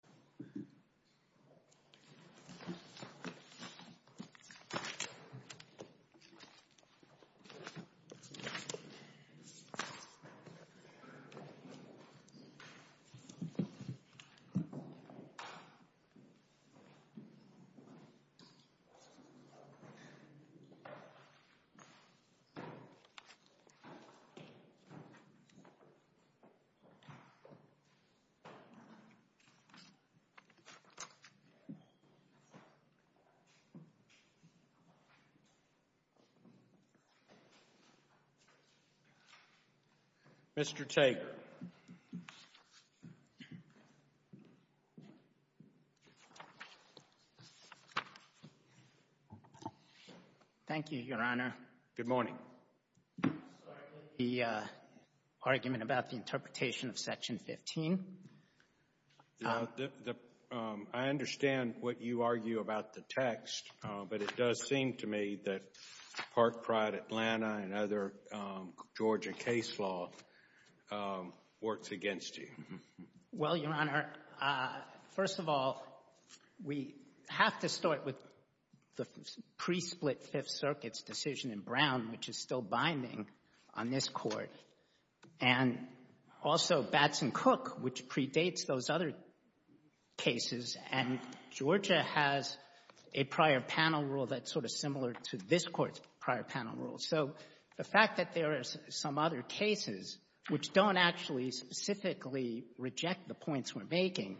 General Mills, Inc. v. General Mills, Inc. Mr. Tate. Thank you, Your Honor. Good morning. I'm sorry to make the argument about the interpretation of Section 15. I understand what you argue about the text, but it does seem to me that Park Pride Atlanta and other Georgia case law works against you. Well, Your Honor, first of all, we have to start with the pre-split Fifth Circuit's decision in Brown, which is still binding on this Court, and also Batson-Cook, which predates those other cases, and Georgia has a prior panel rule that's sort of similar to this Court's prior panel rule. So the fact that there are some other cases which don't actually specifically reject the points we're making,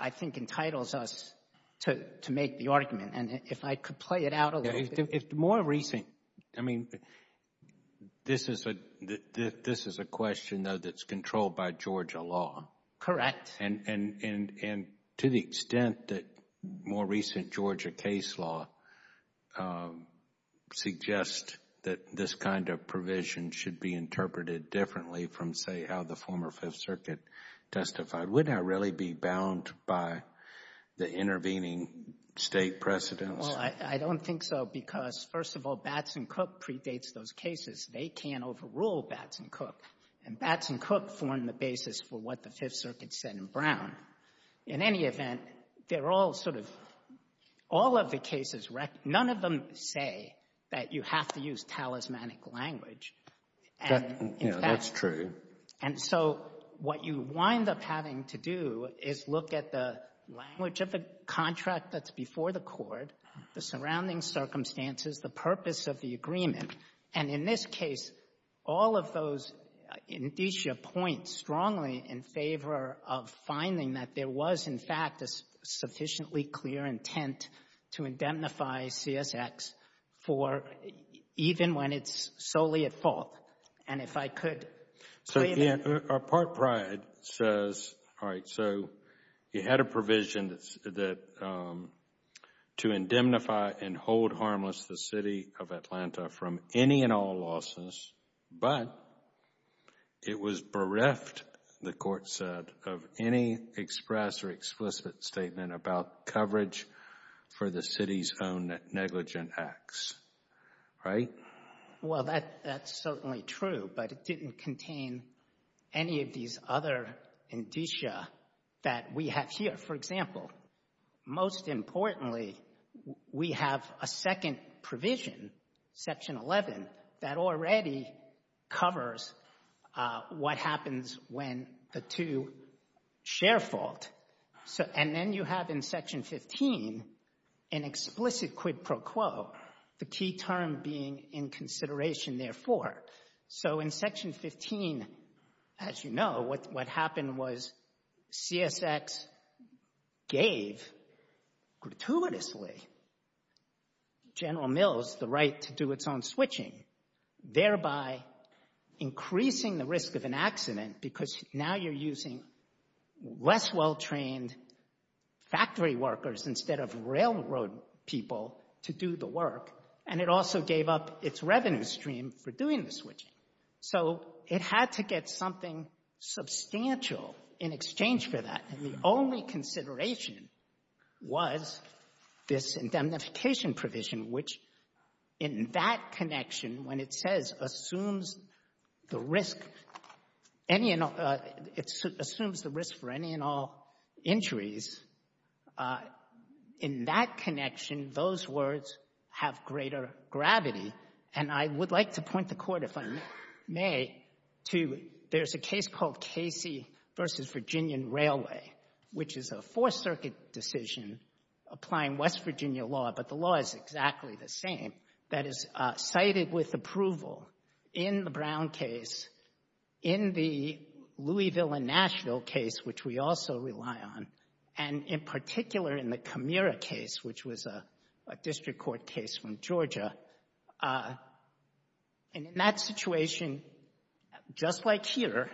I think, entitles us to make the argument, and if I could play it out a little bit. If the more recent, I mean, this is a question, though, that's controlled by Georgia law. Correct. And to the extent that more recent Georgia case law suggests that this kind of provision should be interpreted differently from, say, how the former Fifth Circuit testified, would that really be bound by the intervening State precedents? Well, I don't think so, because, first of all, Batson-Cook predates those cases. They can't overrule Batson-Cook, and Batson-Cook formed the basis for what the Fifth Circuit said in Brown. In any event, they're all sort of — all of the cases, none of them say that you have to use talismanic language. And, in fact — That's true. And so what you wind up having to do is look at the language of a contract that's before the court, the surrounding circumstances, the purpose of the agreement. And in this case, all of those indicia point strongly in favor of finding that there was, in fact, a sufficiently clear intent to indemnify CSX for — even when it's solely at fault. And if I could play it in — Court pride says, all right, so you had a provision that — to indemnify and hold harmless the City of Atlanta from any and all losses, but it was bereft, the court said, of any express or explicit statement about coverage for the City's own negligent acts. Right? Well, that's certainly true, but it didn't contain any of these other indicia that we have here. For example, most importantly, we have a second provision, Section 11, that already covers what happens when the two share fault. And then you have in Section 15 an explicit quid pro quo, the key term being in consideration therefore. So in Section 15, as you know, what happened was CSX gave gratuitously General Mills the right to do its own switching, thereby increasing the risk of an accident because now you're using less well-trained factory workers instead of railroad people to do the work. And it also gave up its revenue stream for doing the switching. So it had to get something substantial in exchange for that, and the only consideration was this indemnification provision, which in that connection, when it says assumes the risk for any and all injuries, in that connection, those words have greater gravity. And I would like to point the Court, if I may, to there's a case called Casey v. Virginian Railway, which is a Fourth Circuit decision applying West Virginia law, but the law is Nashville case, which we also rely on, and in particular, in the Camira case, which was a district court case from Georgia, and in that situation, just like here,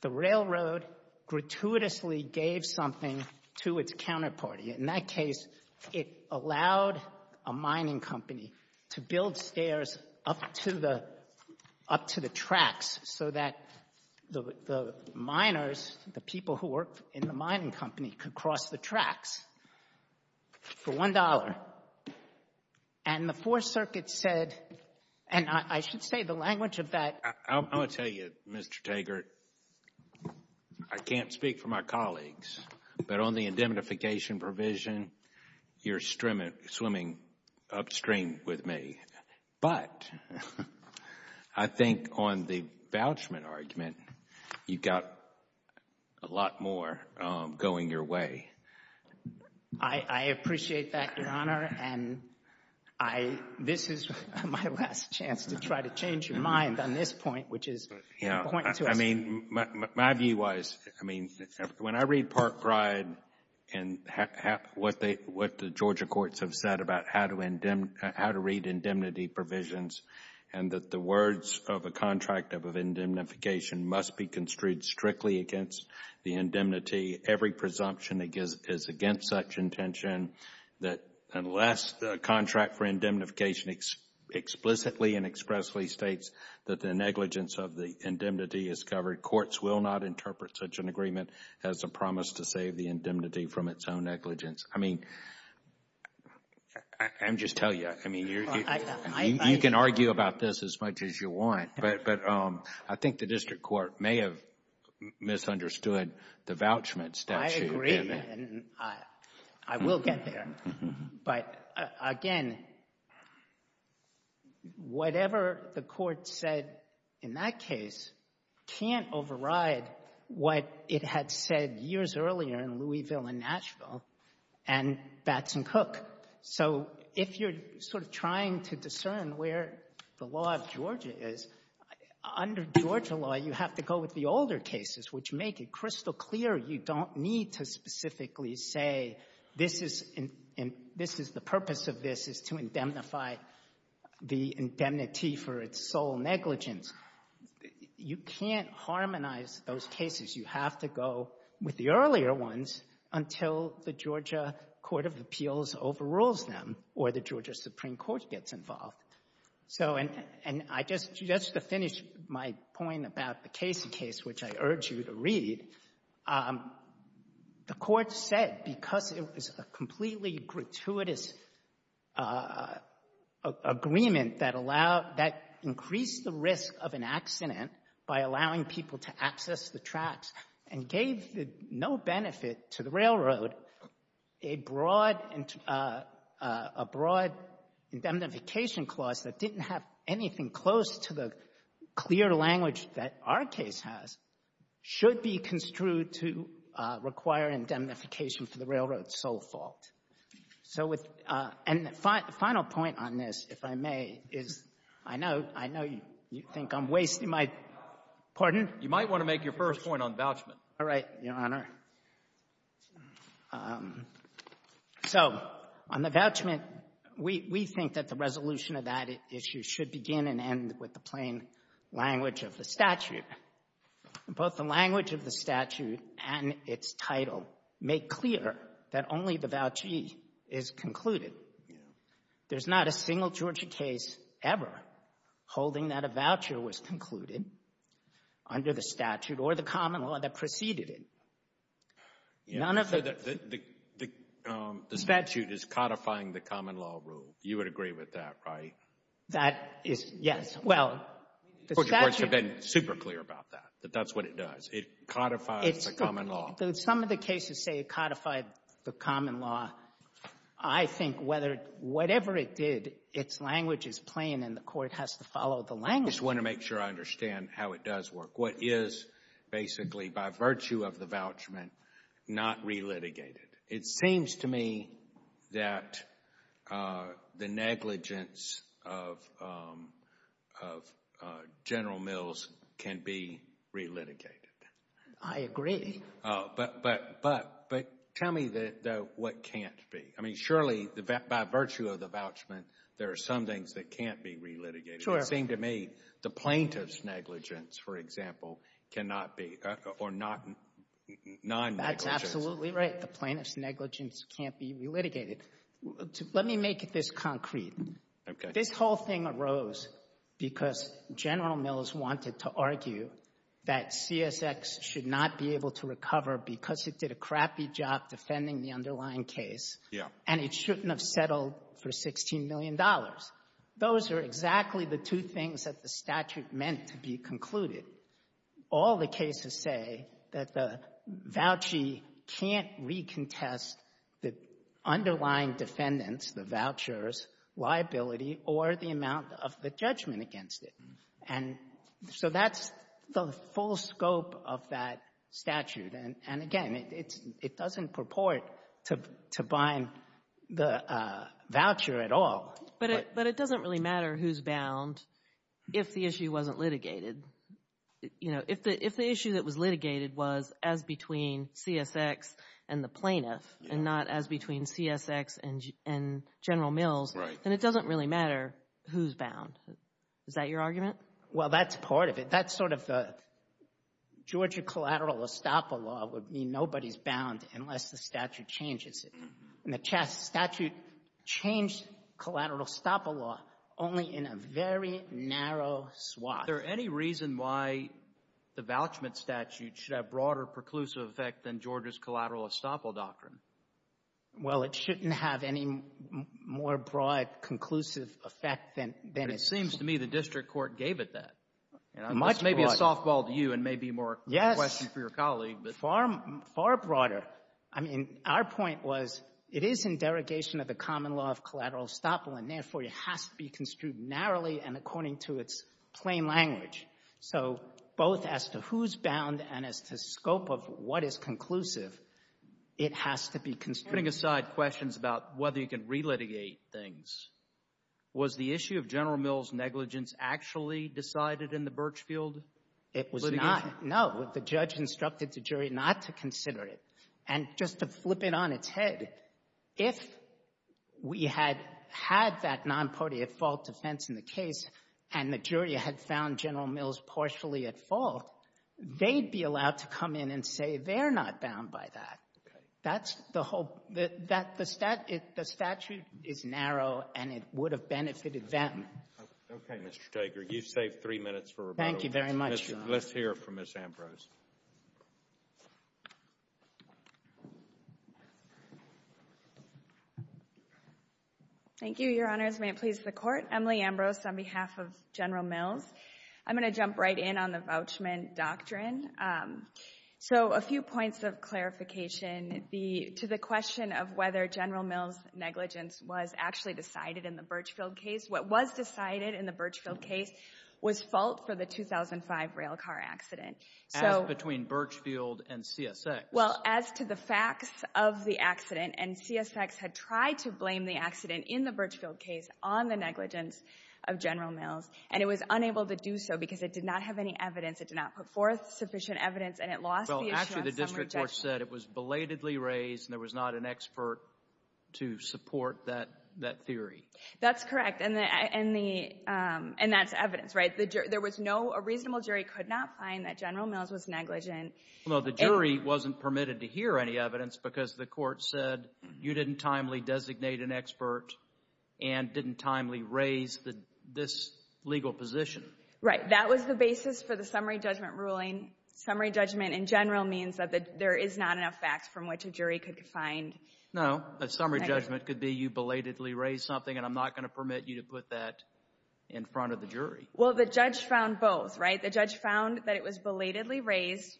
the railroad gratuitously gave something to its counterparty. In that case, it allowed a mining company to build stairs up to the tracks so that the people who worked in the mining company could cross the tracks for $1. And the Fourth Circuit said, and I should say the language of that— I'm going to tell you, Mr. Taggart, I can't speak for my colleagues, but on the indemnification provision, you're swimming upstream with me, but I think on the vouchment argument, you've got a lot more going your way. I appreciate that, Your Honor, and this is my last chance to try to change your mind on this point, which is pointing to us— I mean, my view was, I mean, when I read Park Bride and what the Georgia courts have said about how to read indemnity provisions and that the words of a contract of indemnification must be construed strictly against the indemnity, every presumption is against such intention that unless the contract for indemnification explicitly and expressly states that the negligence of the indemnity is covered, courts will not interpret such an agreement as a promise to save the indemnity from its own negligence. I mean, I'm just telling you, I mean, you can argue about this as much as you want, but I think the district court may have misunderstood the vouchment statute. I agree, and I will get there, but again, whatever the court said in that case can't and Batson Cook. So if you're sort of trying to discern where the law of Georgia is, under Georgia law, you have to go with the older cases, which make it crystal clear you don't need to specifically say this is—the purpose of this is to indemnify the indemnity for its sole negligence. You can't harmonize those cases. You have to go with the earlier ones until the Georgia Court of Appeals overrules them or the Georgia Supreme Court gets involved. So and I just to finish my point about the Casey case, which I urge you to read, the court said because it was a completely gratuitous agreement that increased the risk of an accident by allowing people to access the tracks and gave no benefit to the railroad, a broad indemnification clause that didn't have anything close to the clear language that our case has should be construed to require indemnification for the railroad's sole fault. So with — and the final point on this, if I may, is I know — I know you think I'm wasting my — pardon? You might want to make your first point on vouchment. All right, Your Honor. So on the vouchment, we think that the resolution of that issue should begin and end with the plain language of the statute. Both the language of the statute and its title make clear that only the vouchee is concluded. There's not a single Georgia case ever holding that a voucher was concluded under the statute or the common law that preceded it. None of the — So the statute is codifying the common law rule. You would agree with that, right? That is — yes. Well, the statute — Georgia courts have been super clear about that, that that's what it does. It codifies the common law. Some of the cases say it codified the common law. I think whether — whatever it did, its language is plain, and the Court has to follow the language. I just want to make sure I understand how it does work. What is basically, by virtue of the vouchment, not relitigated? It seems to me that the negligence of General Mills can be relitigated. I agree. But tell me what can't be. I mean, surely, by virtue of the vouchment, there are some things that can't be relitigated. Sure. It seemed to me the plaintiff's negligence, for example, cannot be — or non-negligence. That's absolutely right. The plaintiff's negligence can't be relitigated. Let me make this concrete. Okay. This whole thing arose because General Mills wanted to argue that CSX should not be able to recover because it did a crappy job defending the underlying case. Yeah. And it shouldn't have settled for $16 million. Those are exactly the two things that the statute meant to be concluded. All the cases say that the vouchee can't recontest the underlying defendant's, the voucher's, liability or the amount of the judgment against it. And so that's the full scope of that statute. And again, it doesn't purport to bind the voucher at all. But it doesn't really matter who's bound if the issue wasn't litigated. You know, if the issue that was litigated was as between CSX and the plaintiff and not as between CSX and General Mills, then it doesn't really matter who's bound. Is that your argument? Well, that's part of it. That's sort of the Georgia collateral estoppel law would mean nobody's bound unless the statute changes it. And the statute changed collateral estoppel law only in a very narrow swath. Is there any reason why the vouchment statute should have broader preclusive effect than Georgia's collateral estoppel doctrine? Well, it shouldn't have any more broad conclusive effect than it's — But it seems to me the district court gave it that. Much broader. And this may be a softball to you and may be more of a question for your colleague, but — Yes, far broader. I mean, our point was it is in derogation of the common law of collateral estoppel, and therefore, it has to be construed narrowly and according to its plain language. So both as to who's bound and as to scope of what is conclusive, it has to be construed narrowly. Setting aside questions about whether you can relitigate things, was the issue of General Mills' negligence actually decided in the Birchfield litigation? It was not. No. The judge instructed the jury not to consider it. And just to flip it on its head, if we had had that nonpartite fault defense in the case and the jury had found General Mills partially at fault, they'd be allowed to come in and say they're not bound by that. Okay. That's the whole — that — the statute is narrow, and it would have benefited them. Okay, Mr. Steger. You've saved three minutes for rebuttal. Thank you very much, Your Honor. Let's hear from Ms. Ambrose. Thank you, Your Honors. May it please the Court. Emily Ambrose on behalf of General Mills. I'm going to jump right in on the vouchment doctrine. So a few points of clarification to the question of whether General Mills' negligence was actually decided in the Birchfield case. What was decided in the Birchfield case was fault for the 2005 rail car accident. So — As between Birchfield and CSX. Well, as to the facts of the accident, and CSX had tried to blame the accident in the Birchfield case on the negligence of General Mills, and it was unable to do so because it did not have any evidence. It did not put forth sufficient evidence, and it lost the issue on summary judgment. Well, actually, the district court said it was belatedly raised and there was not an expert to support that theory. That's correct. And the — and the — and that's evidence, right? There was no — a reasonable jury could not find that General Mills was negligent. Well, the jury wasn't permitted to hear any evidence because the court said you didn't timely designate an expert and didn't timely raise this legal position. Right. That was the basis for the summary judgment ruling. Summary judgment in general means that there is not enough facts from which a jury could find — No. A summary judgment could be you belatedly raised something, and I'm not going to permit you to put that in front of the jury. Well, the judge found both, right? The judge found that it was belatedly raised,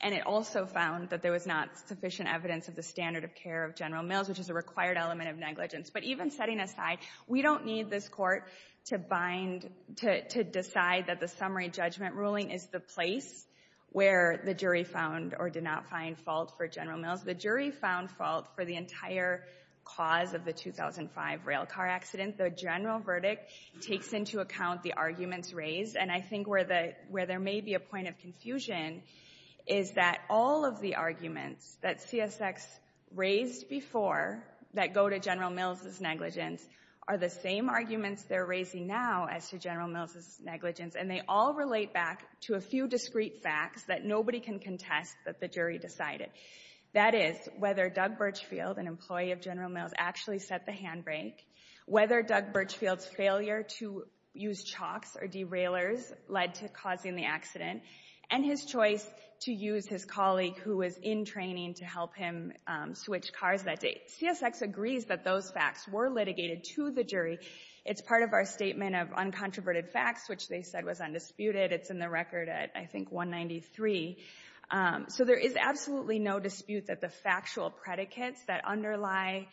and it also found that there was not sufficient evidence of the standard of care of General Mills, which is a required element of negligence. But even setting aside, we don't need this court to bind — to decide that the summary judgment ruling is the place where the jury found or did not find fault for General Mills. The jury found fault for the entire cause of the 2005 rail car accident. The general verdict takes into account the arguments raised. And I think where the — where there may be a point of confusion is that all of the arguments that CSX raised before that go to General Mills' negligence are the same arguments they're raising now as to General Mills' negligence. And they all relate back to a few discrete facts that nobody can contest that the jury decided. That is, whether Doug Birchfield, an employee of General Mills, actually set the handbrake, whether Doug Birchfield's failure to use chalks or derailers led to causing the accident, and his choice to use his colleague who was in training to help him switch cars that day. CSX agrees that those facts were litigated to the jury. It's part of our statement of uncontroverted facts, which they said was undisputed. It's in the record at, I think, 193. So there is absolutely no dispute that the factual predicates that underlie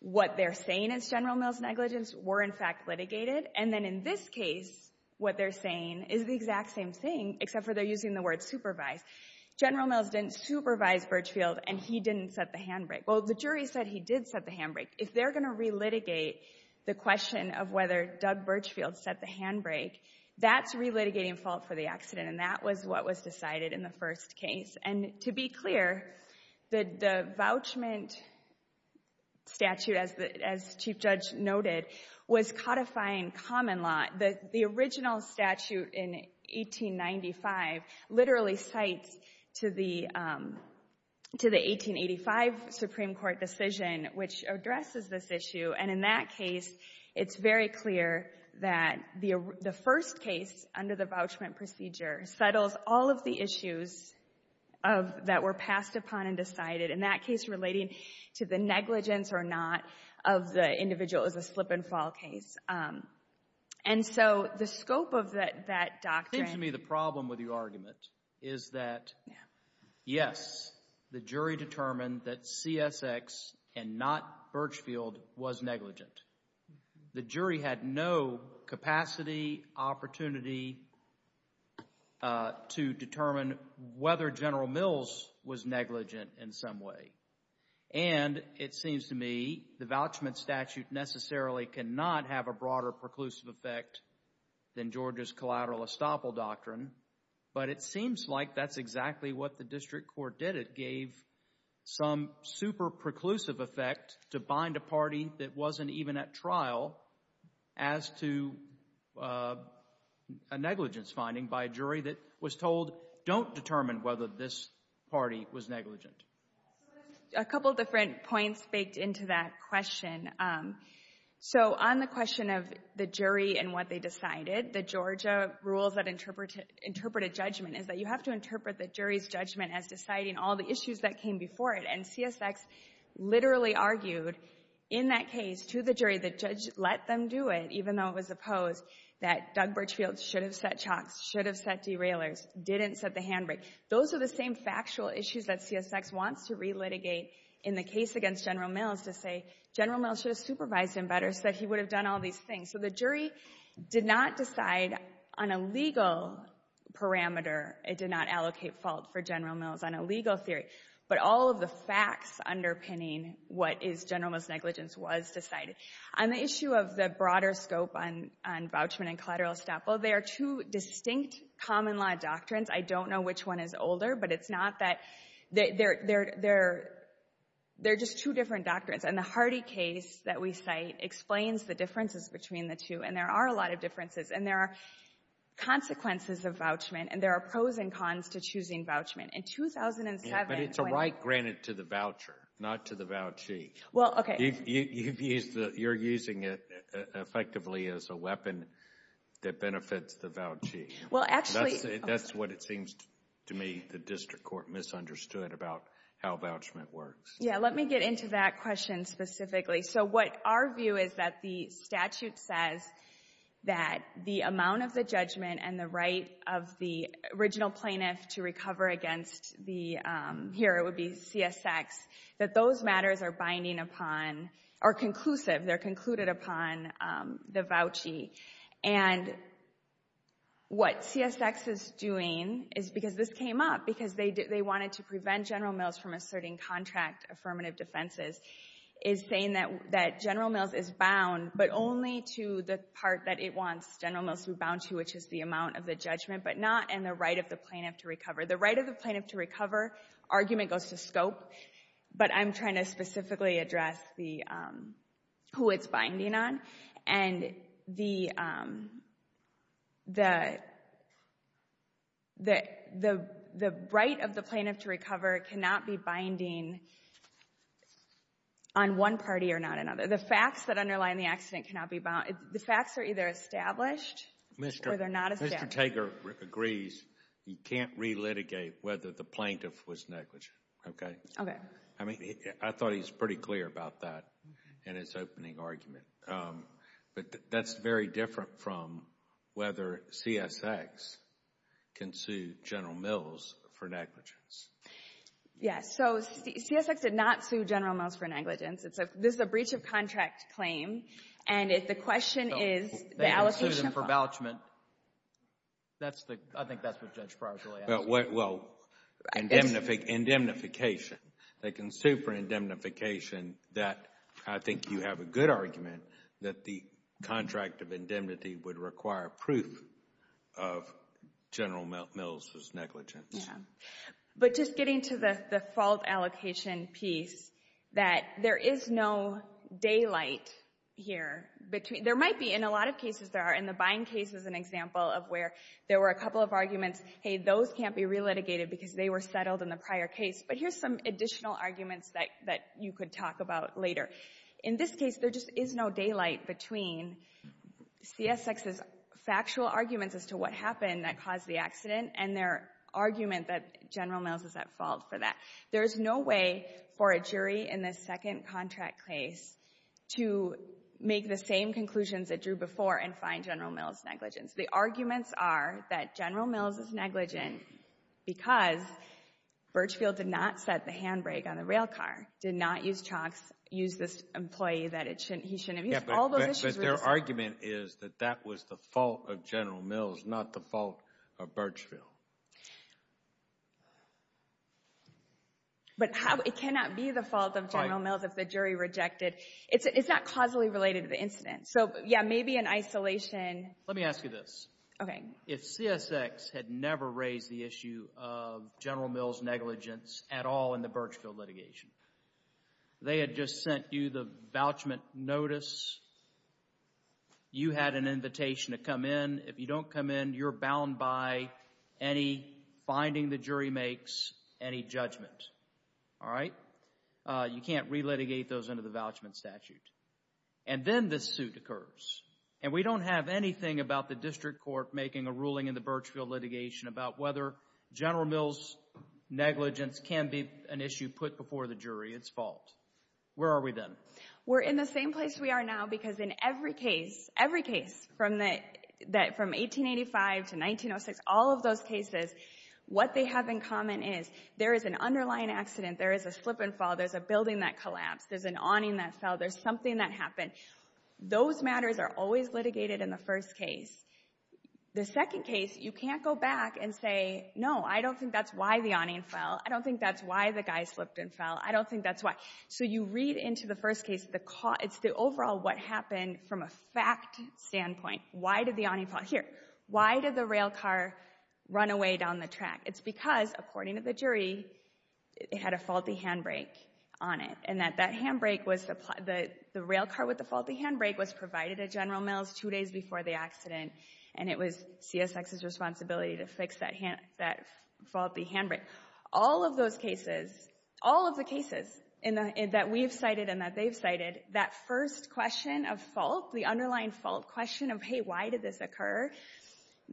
what they're saying is General Mills' negligence were, in fact, litigated. And then in this case, what they're saying is the exact same thing, except for they're using the word supervised. General Mills didn't supervise Birchfield, and he didn't set the handbrake. Well, the jury said he did set the handbrake. If they're going to relitigate the question of whether Doug Birchfield set the handbrake, that's relitigating fault for the accident. And that was what was decided in the first case. And to be clear, the vouchment statute, as the Chief Judge noted, was codifying common law. The original statute in 1895 literally cites to the 1885 Supreme Court decision, which addresses this issue. And in that case, it's very clear that the first case under the vouchment procedure settles all of the issues that were passed upon and decided. In that case, relating to the negligence or not of the individual is a slip and fall case. And so the scope of that doctrine— It seems to me the problem with your argument is that, yes, the jury determined that CSX and not Birchfield was negligent. The jury had no capacity, opportunity to determine whether General Mills was negligent in some way. And it seems to me the vouchment statute necessarily cannot have a broader preclusive effect than Georgia's collateral estoppel doctrine. But it seems like that's exactly what the district court did. It gave some super preclusive effect to bind a party that wasn't even at trial as to a negligence finding by a jury that was told, don't determine whether this party was negligent. A couple different points baked into that question. So on the question of the jury and what they decided, the Georgia rules that interpret a judgment is that you have to interpret the jury's judgment as deciding all the issues that came before it. And CSX literally argued in that case to the jury that let them do it, even though it was opposed, that Doug Birchfield should have set chocks, should have set derailers, didn't set the handbrake. Those are the same factual issues that CSX wants to relitigate in the case against General Mills to say General Mills should have supervised him better so that he would have done all these things. So the jury did not decide on a legal parameter. It did not allocate fault for General Mills on a legal theory. But all of the facts underpinning what is General Mills' negligence was decided. On the issue of the broader scope on voucher and collateral estate, well, there are two distinct common law doctrines. I don't know which one is older, but it's not that they're just two different doctrines. And the Hardy case that we cite explains the differences between the two, and there are a lot of differences. And there are consequences of vouchment, and there are pros and cons to choosing vouchment. In 2007— But it's a right granted to the voucher, not to the vouchee. Well, okay— You're using it effectively as a weapon that benefits the vouchee. Well, actually— That's what it seems to me the district court misunderstood about how vouchment works. Yeah, let me get into that question specifically. So what our view is that the statute says that the amount of the judgment and the right of the original plaintiff to recover against the—here, it would be CSX—that those matters are binding upon—are conclusive. They're concluded upon the vouchee. And what CSX is doing is—because this came up, because they wanted to prevent General Mills from contracting affirmative defenses—is saying that General Mills is bound, but only to the part that it wants General Mills to be bound to, which is the amount of the judgment, but not in the right of the plaintiff to recover. The right of the plaintiff to recover argument goes to scope, but I'm trying to specifically address who it's binding on. And the right of the plaintiff to recover cannot be binding on one party or not another. The facts that underlie the accident cannot be bound. The facts are either established or they're not established. Mr. Tager agrees you can't relitigate whether the plaintiff was negligent, okay? Okay. I mean, I thought he was pretty clear about that in his opening argument. But that's very different from whether CSX can sue General Mills for negligence. Yes. So CSX did not sue General Mills for negligence. It's a—this is a breach-of-contract claim, and the question is— They can sue them for vouchement. That's the—I think that's what Judge Pryor's really asking. Well, indemnification. They can sue for indemnification. That—I think you have a good argument that the contract of indemnity would require proof of General Mills' negligence. Yeah. But just getting to the fault allocation piece, that there is no daylight here between—there might be. In a lot of cases, there are. In the Bind case is an example of where there were a couple of arguments, hey, those can't be relitigated because they were settled in the prior case. But here's some additional arguments that you could talk about later. In this case, there just is no daylight between CSX's factual arguments as to what happened that caused the accident and their argument that General Mills is at fault for that. There is no way for a jury in this second contract case to make the same conclusions it drew before and find General Mills negligent. The arguments are that General Mills is negligent because Birchfield did not set the handbrake on the rail car, did not use chalks, use this employee that he shouldn't have used. All those issues— But their argument is that that was the fault of General Mills, not the fault of Birchfield. But how—it cannot be the fault of General Mills if the jury rejected—it's not causally related to the incident. So, yeah, maybe in isolation— Let me ask you this. Okay. If CSX had never raised the issue of General Mills negligence at all in the Birchfield litigation, they had just sent you the vouchment notice, you had an invitation to come in. If you don't come in, you're bound by any finding the jury makes, any judgment, all right? You can't relitigate those under the vouchment statute. And then this suit occurs, and we don't have anything about the district court making a ruling in the Birchfield litigation about whether General Mills negligence can be an issue put before the jury. It's fault. Where are we then? We're in the same place we are now because in every case, every case from 1885 to 1906, all of those cases, what they have in common is there is an underlying accident, there is a slip and fall, there's a building that collapsed, there's an awning that fell, there's something that happened. Those matters are always litigated in the first case. The second case, you can't go back and say, no, I don't think that's why the awning fell. I don't think that's why the guy slipped and fell. I don't think that's why. So you read into the first case, it's the overall what happened from a fact standpoint. Why did the awning fall? Here. Why did the railcar run away down the track? It's because, according to the jury, it had a faulty handbrake on it, and that that handbrake was the railcar with the faulty handbrake was provided at General Mills two days before the accident, and it was CSX's responsibility to fix that faulty handbrake. All of those cases, all of the cases that we've cited and that they've cited, that first question of fault, the underlying fault question of, hey, why did this occur,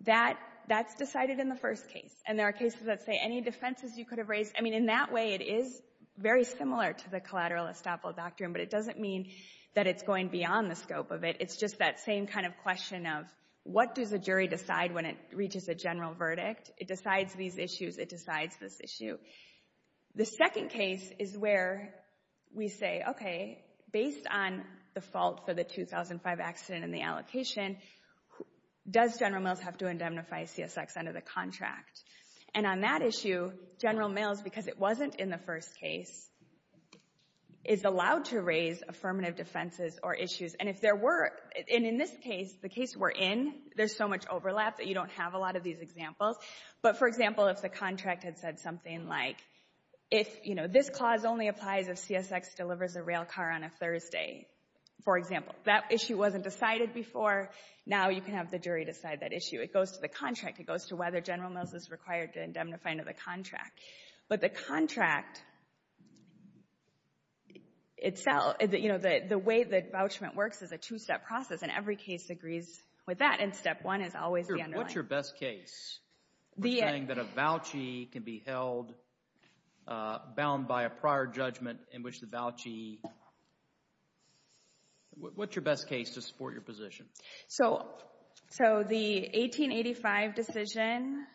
that's decided in the first case. And there are cases that say any defenses you could have raised, I mean, in that way, it is very similar to the collateral estoppel doctrine, but it doesn't mean that it's going beyond the scope of it. It's just that same kind of question of what does the jury decide when it reaches a general verdict? It decides these issues. It decides this issue. The second case is where we say, okay, based on the fault for the 2005 accident and the allocation, does General Mills have to indemnify CSX under the contract? And on that issue, General Mills, because it wasn't in the first case, is allowed to raise affirmative defenses or issues. And if there were, and in this case, the case we're in, there's so much overlap that you don't have a lot of these examples. But, for example, if the contract had said something like, if, you know, this clause only applies if CSX delivers a railcar on a Thursday, for example. That issue wasn't decided before. It goes to the contract. It goes to whether General Mills is required to indemnify under the contract. But the contract itself, you know, the way that vouchment works is a two-step process, and every case agrees with that. And step one is always the underlying. What's your best case for saying that a vouchee can be held bound by a prior judgment in which the vouchee, what's your best case to support your position? So the 1885 decision.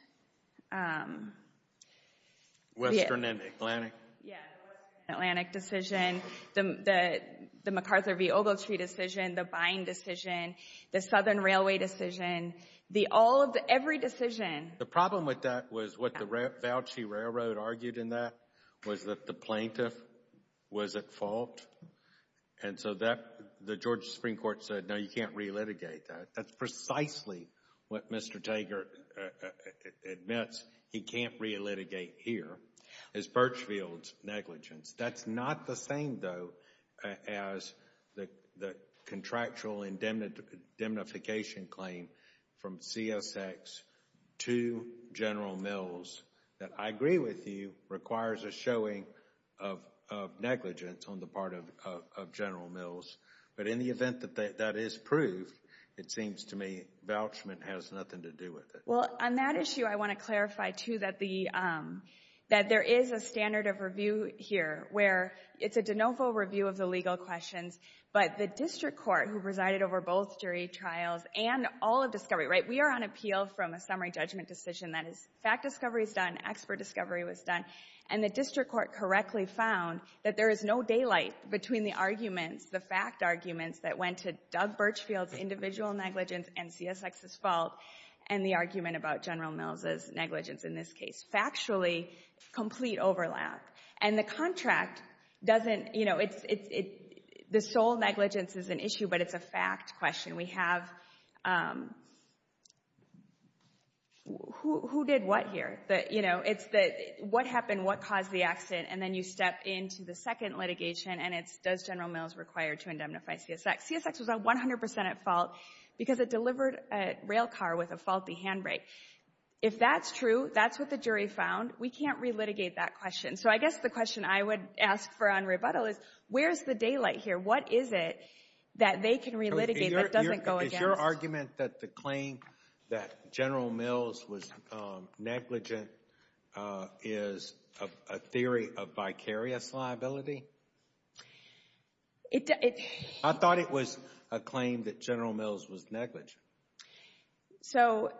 Western and Atlantic. Yeah, the Western and Atlantic decision, the MacArthur v. Ogletree decision, the Bind decision, the Southern Railway decision, the all of the, every decision. The problem with that was what the vouchee railroad argued in that was that the plaintiff was at fault. And so that, the Georgia Supreme Court said, no, you can't re-litigate that. That's precisely what Mr. Tager admits he can't re-litigate here, is Birchfield's negligence. That's not the same, though, as the contractual indemnification claim from CSX to General Mills that, I agree with you, requires a showing of negligence on the part of General Mills. But in the event that that is proved, it seems to me vouchment has nothing to do with it. Well, on that issue, I want to clarify, too, that there is a standard of review here where it's a de novo review of the legal questions. But the district court, who presided over both jury trials and all of discovery, right, we are on appeal from a summary judgment decision that is, fact discovery is done, expert discovery was done, and the district court correctly found that there is no daylight between the arguments, the fact arguments that went to Doug Birchfield's individual negligence and CSX's fault and the argument about General Mills' negligence in this case. Factually, complete overlap. And the contract doesn't, you know, it's, the sole negligence is an issue, but it's a fact question. We have, who did what here? You know, it's the, what happened, what caused the accident, and then you step into the second litigation, and it's, does General Mills require to indemnify CSX? CSX was 100 percent at fault because it delivered a rail car with a faulty handbrake. If that's true, that's what the jury found. We can't relitigate that question. So I guess the question I would ask for on rebuttal is, where's the daylight here? What is it that they can relitigate? Is your argument that the claim that General Mills was negligent is a theory of vicarious liability? I thought it was a claim that General Mills was negligent. So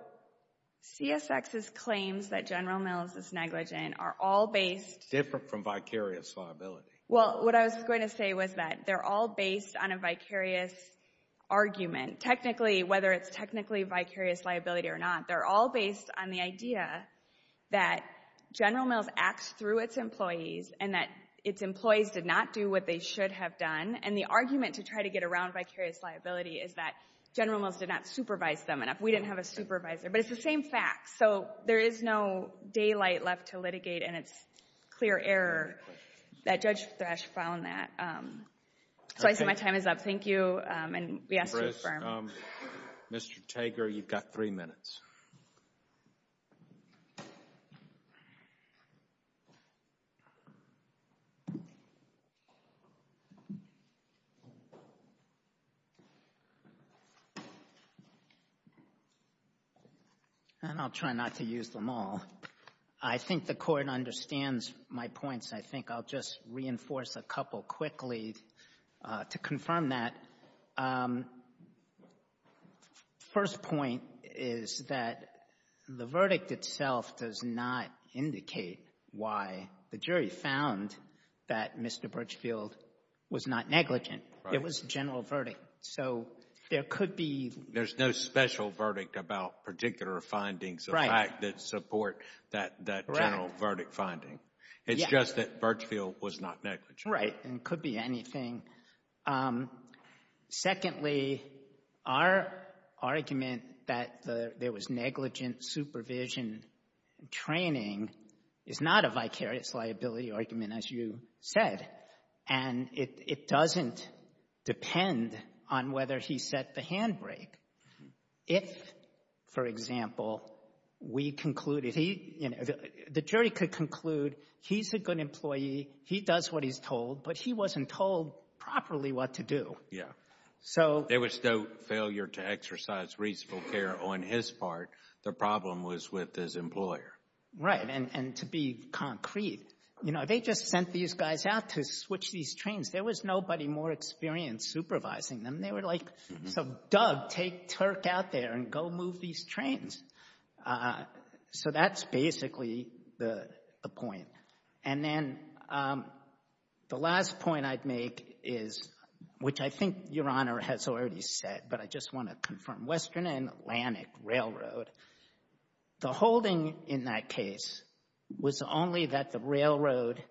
CSX's claims that General Mills is negligent are all based... Different from vicarious liability. Well, what I was going to say was that they're all based on a vicarious argument. Technically, whether it's technically vicarious liability or not, they're all based on the idea that General Mills acts through its employees and that its employees did not do what they should have done, and the argument to try to get around vicarious liability is that General Mills did not supervise them enough. We didn't have a supervisor, but it's the same fact. So there is no daylight left to litigate, and it's clear error that Judge Thrash found that. So I see my time is up. Thank you, and we ask you to confirm. Mr. Tager, you've got three minutes. And I'll try not to use them all. I think the Court understands my points. I think I'll just reinforce a couple quickly to confirm that. The first point is that the verdict itself does not indicate why the jury found that Mr. Birchfield was not negligent. It was a general verdict. So there could be... There's no special verdict about particular findings of fact that support that general verdict finding. It's just that Birchfield was not negligent. Right, and it could be anything. Secondly, our argument that there was negligent supervision and training is not a vicarious liability argument, as you said. And it doesn't depend on whether he set the handbrake. If, for example, we concluded he... The jury could conclude he's a good employee, he does what he's told, but he wasn't told properly what to do. Yeah, there was no failure to exercise reasonable care on his part. The problem was with his employer. Right, and to be concrete, you know, they just sent these guys out to switch these trains. There was nobody more experienced supervising them. They were like, so Doug, take Turk out there and go move these trains. So that's basically the point. And then the last point I'd make is, which I think Your Honor has already said, but I just want to confirm, Western and Atlantic Railroad, the holding in that case was only that the railroad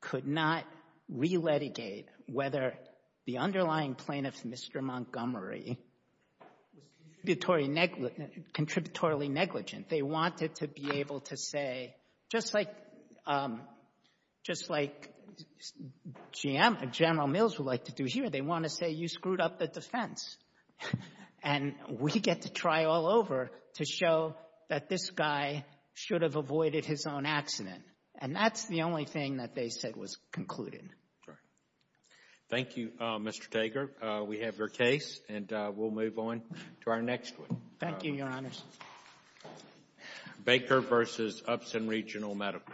could not re-litigate whether the underlying plaintiff, Mr. Montgomery, was contributory negligent. They wanted to be able to say, just like General Mills would like to do here, they want to say you screwed up the defense. And we get to try all over to show that this guy should have avoided his own accident. And that's the only thing that they said was concluded. Right. Thank you, Mr. Tager. We have your case, and we'll move on to our next one. Thank you, Your Honors. Baker v. Upson Regional Medical.